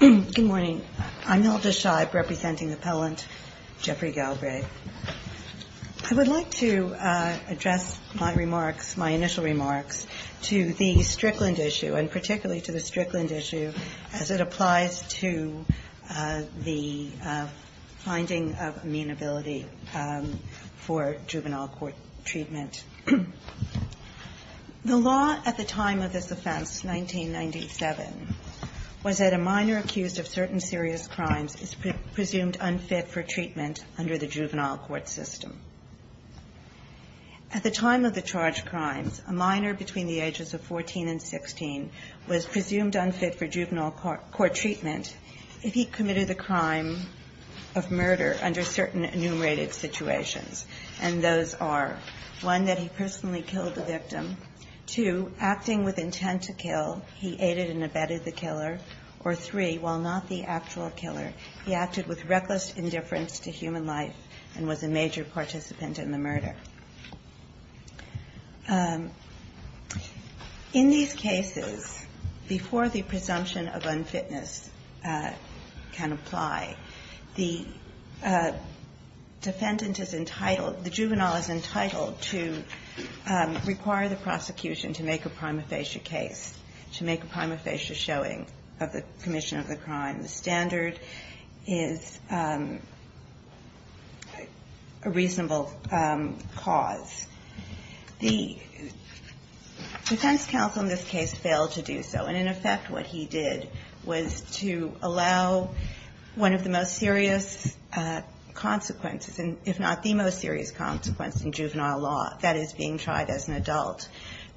Good morning. I'm Hilda Scheib, representing appellant Jeffrey Galbraith. I would like to address my initial remarks to the Strickland issue, and particularly to the Strickland issue as it applies to the finding of amenability for juvenile court treatment. The law at the time of this offense, 1997, was that a minor accused of certain serious crimes is presumed unfit for treatment under the juvenile court system. At the time of the charged crimes, a minor between the ages of 14 and 16 was presumed unfit for juvenile court treatment if he committed a crime of murder under certain enumerated situations, and those are, one, that he personally killed the victim, two, acting with intent to kill, he aided and abetted the killer, or three, while not the actual killer, he acted with reckless indifference to human life and was a major participant in the murder. In these cases, before the presumption of unfitness can apply, the defendant is entitled, the juvenile is entitled to require the prosecution to make a prima facie case, to make a prima facie showing of the commission of the crime. The standard is a reasonable cause. The defense counsel in this case failed to do so, and in effect what he did was to allow one of the most serious consequences, if not the most serious consequence in juvenile law, that is being tried as an adult,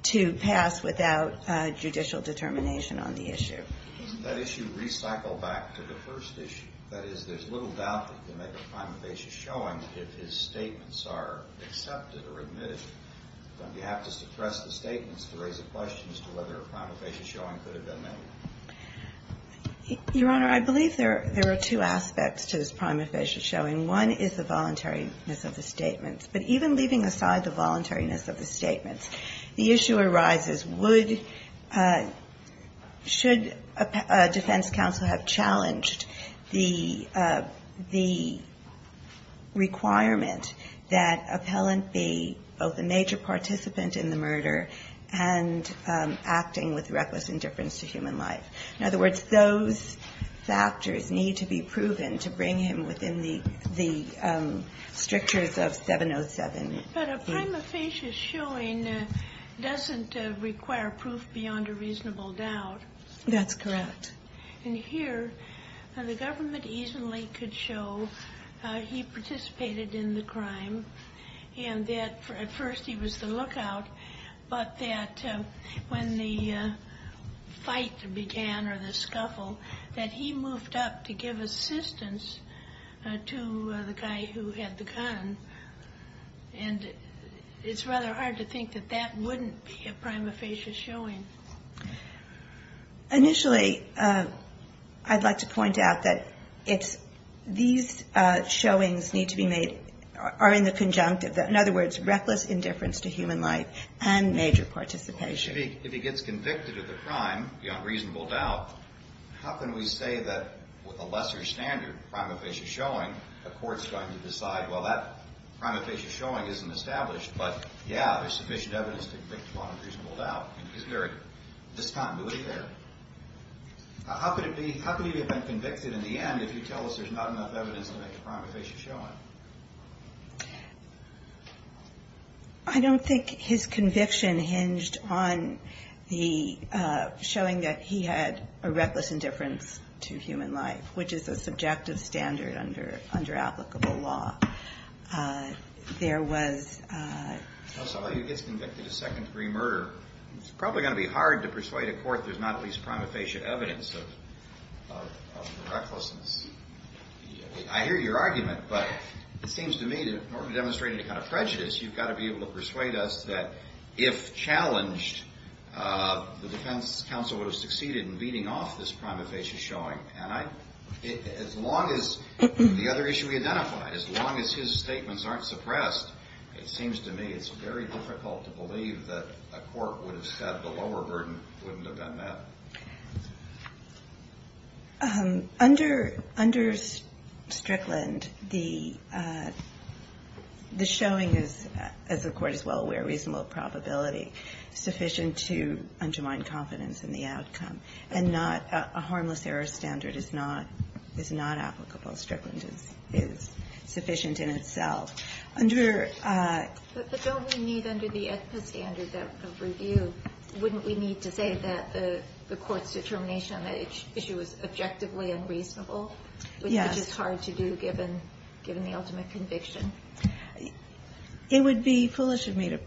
to pass without judicial determination on the issue. Isn't that issue recycled back to the first issue? That is, there's little doubt that you can make a prima facie showing if his statements are accepted or admitted. Don't you have to suppress the statements to raise a question as to whether a prima facie showing could have been made? Your Honor, I believe there are two aspects to this prima facie showing. One is the voluntariness of the statements. But even leaving aside the voluntariness of the statements, the issue arises, would, should a defense counsel have challenged the requirement that appellant be both a major participant in the murder and acting with reckless indifference to human life? In other words, those factors need to be proven to bring him within the strictures of 707. But a prima facie showing doesn't require proof beyond a reasonable doubt. That's correct. And here, the government easily could show he participated in the crime and that at first he was the lookout, but that when the fight began or the scuffle, that he moved up to give assistance to the guy who had the gun. And it's rather hard to think that that wouldn't be a prima facie showing. Initially, I'd like to point out that it's, these showings need to be made, are in the conjunctive. In other words, reckless indifference to human life and major participation. If he gets convicted of the crime beyond reasonable doubt, how can we say that with a lesser standard prima facie showing, a court's going to decide, well, that prima facie showing isn't established, but yeah, there's sufficient evidence to convict him on a reasonable doubt. Isn't there a discontinuity there? How could it be, how could he have been convicted in the end if you tell us there's not enough evidence to make a prima facie showing? I don't think his conviction hinged on the, showing that he had a reckless indifference to human life, which is a subjective standard under, under applicable law. There was... Also, if he gets convicted of second degree murder, it's probably going to be hard to persuade a court there's not at least prima facie evidence of, of, of the recklessness. I hear your argument, but it seems to me, in order to demonstrate any kind of prejudice, you've got to be able to persuade us that if challenged, the defense counsel would have succeeded in beating off this prima facie showing. And I, as long as the other issue we identified, as long as his statements aren't suppressed, it seems to me it's very difficult to believe that a court would have said the lower burden wouldn't have been met. So, under, under Strickland, the, the showing is, as the court is well aware, reasonable probability sufficient to undermine confidence in the outcome. And not, a harmless error standard is not, is not applicable. Strickland is, is sufficient in itself. Under... So, wouldn't we need to say that the, the court's determination on that issue was objectively unreasonable? Yes. Which is hard to do given, given the ultimate conviction. It would be foolish of me to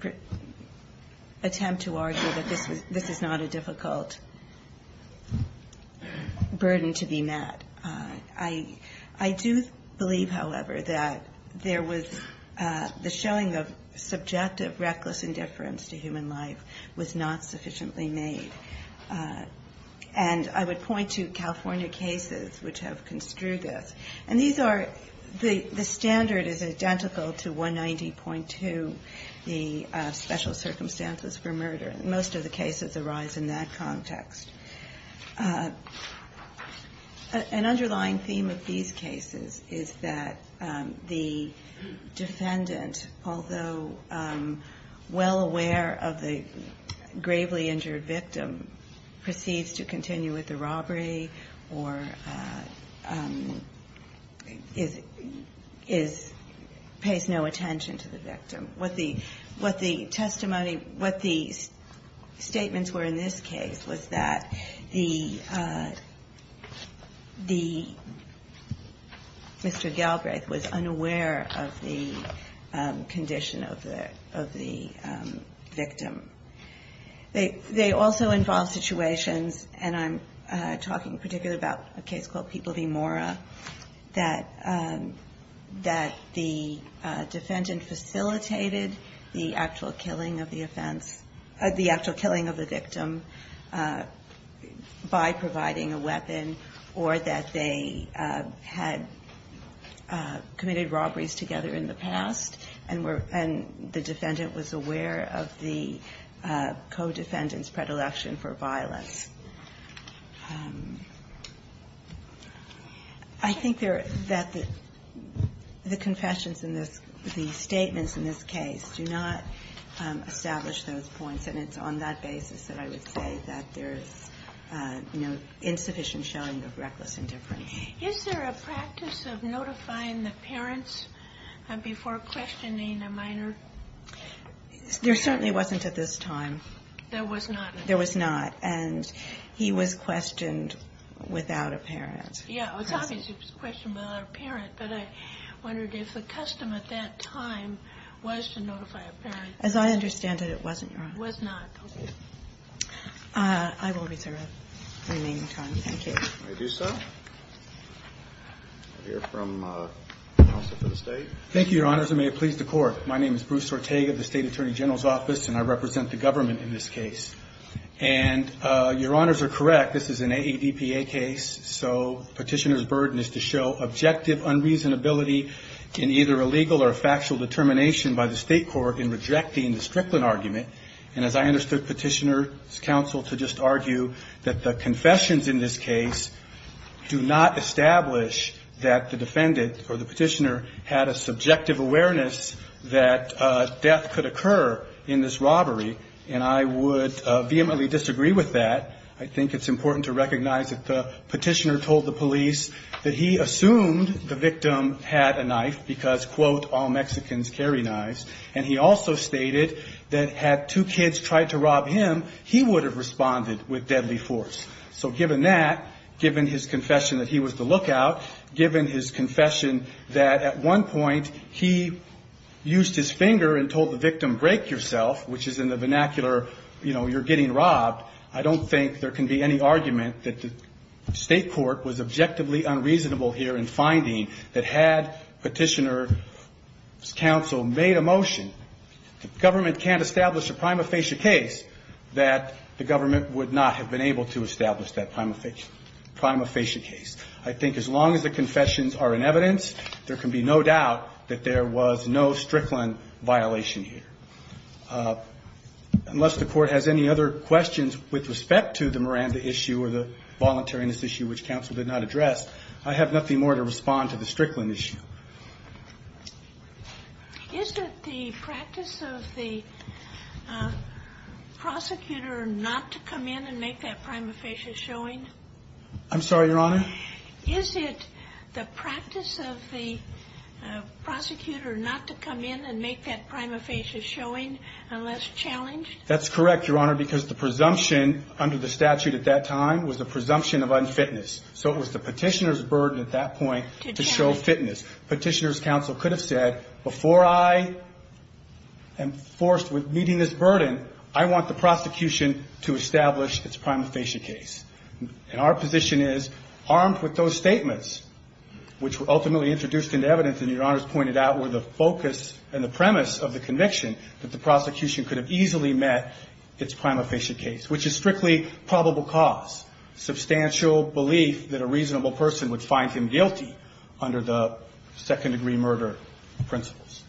attempt to argue that this was, this is not a difficult burden to be met. I, I do believe, however, that there was the showing of subjective reckless indifference to human life was not sufficiently made. And I would point to California cases which have construed this. And these are, the, the standard is identical to 190.2, the special circumstances for murder. Most of the cases arise in that context. An underlying theme of these cases is that the defendant, although well aware of the gravely injured victim, proceeds to continue with the robbery or is, is, pays no attention to the victim. What the, what the testimony, what the statements were in this case was that the, the, Mr. Galbraith was unaware of the condition of the, of the victim. They, they also involve situations, and I'm talking particularly about a case called People v. Mora, that, that the defendant facilitated the actual killing of the victim by providing a weapon or that they had committed robberies together in the past and were, and the defendant was aware of the co-defendant's predilection for violence. I think there, that the, the confessions in this, the statements in this case do not establish those points, and it's on that basis that I would say that there's, you know, insufficient showing of reckless indifference. Is there a practice of notifying the parents before questioning a minor? There certainly wasn't at this time. There was not? There was not, and he was questioned without a parent. Yeah, it's obvious he was questioned without a parent, but I wondered if the custom at that time was to notify a parent. As I understand it, it wasn't, Your Honor. It was not. Okay. I will reserve the remaining time. Thank you. May we do so? We'll hear from counsel for the State. Thank you, Your Honors, and may it please the Court. My name is Bruce Ortega of the State Attorney General's Office, and I represent the government in this case. And Your Honors are correct. This is an AADPA case, so Petitioner's burden is to show objective unreasonability in either a legal or factual determination by the State court in rejecting the Strickland argument. And as I understood Petitioner's counsel to just argue that the confessions in this case do not establish that the defendant or the Petitioner had a subjective awareness that death could occur in this robbery, and I would vehemently disagree with that. I think it's important to recognize that the Petitioner told the police that he had a knife because, quote, all Mexicans carry knives. And he also stated that had two kids tried to rob him, he would have responded with deadly force. So given that, given his confession that he was the lookout, given his confession that at one point he used his finger and told the victim, Break yourself, which is in the vernacular, you know, you're getting robbed, I don't think there can be any argument that the State court was objectively unreasonable here in finding that had Petitioner's counsel made a motion, the government can't establish a prima facie case, that the government would not have been able to establish that prima facie case. I think as long as the confessions are in evidence, there can be no doubt that there was no Strickland violation here. Unless the court has any other questions with respect to the Miranda issue or the Strickland issue. Is it the practice of the prosecutor not to come in and make that prima facie showing? I'm sorry, Your Honor? Is it the practice of the prosecutor not to come in and make that prima facie showing unless challenged? That's correct, Your Honor, because the presumption under the statute at that time was the presumption of unfitness. So it was the Petitioner's burden at that point to show fitness. Petitioner's counsel could have said, before I am forced with meeting this burden, I want the prosecution to establish its prima facie case. And our position is, armed with those statements, which were ultimately introduced into evidence, and Your Honor's pointed out, were the focus and the premise of the conviction that the prosecution could have easily met its prima facie case, which is strictly probable cause. Substantial belief that a reasonable person would find him guilty under the second degree murder principles.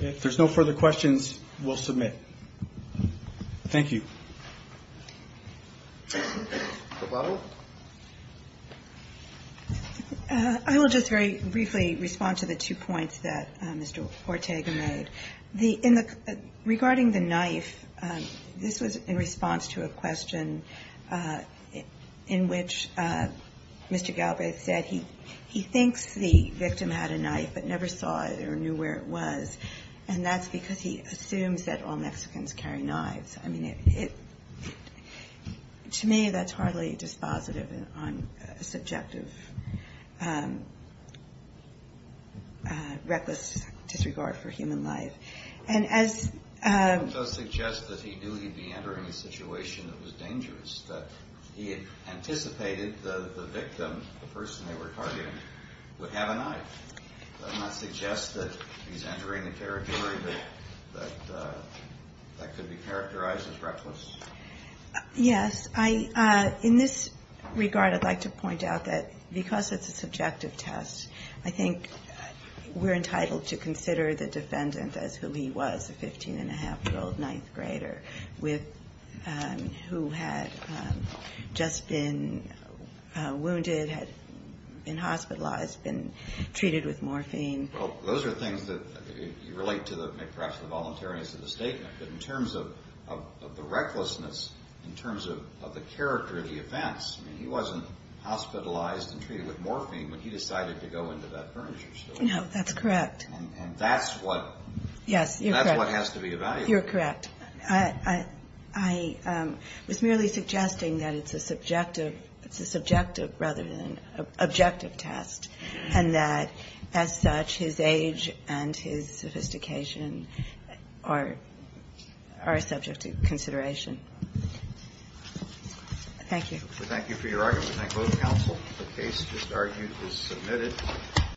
If there's no further questions, we'll submit. Thank you. I will just very briefly respond to the two points that Mr. Ortega made. Regarding the knife, this was in response to a question in which Mr. Galbraith said he thinks the victim had a knife but never saw it or knew where it was, and that's because he assumes that all Mexicans carry knives. I mean, to me, that's hardly dispositive on subjective reckless disregard for human life. And as... He does suggest that he knew he'd be entering a situation that was dangerous, that he anticipated the victim, the person they were targeting, would have a knife. Does that not suggest that he's entering a territory that could be characterized as reckless? Yes. In this regard, I'd like to point out that because it's a subjective test, I think we're entitled to consider the defendant as who he was, a 15-and-a-half-year-old ninth grader who had just been wounded, had been hospitalized, been treated with morphine. Well, those are things that relate to perhaps the voluntariness of the statement. But in terms of the recklessness, in terms of the character of the offense, I mean, he wasn't hospitalized and treated with morphine when he decided to go into that furniture store. No, that's correct. And that's what... Yes, you're correct. And that's what has to be evaluated. You're correct. I was merely suggesting that it's a subjective rather than objective test, and that as such, his age and his sophistication are subject to consideration. Thank you. Thank you for your argument. Thank both counsel. The case just argued is submitted.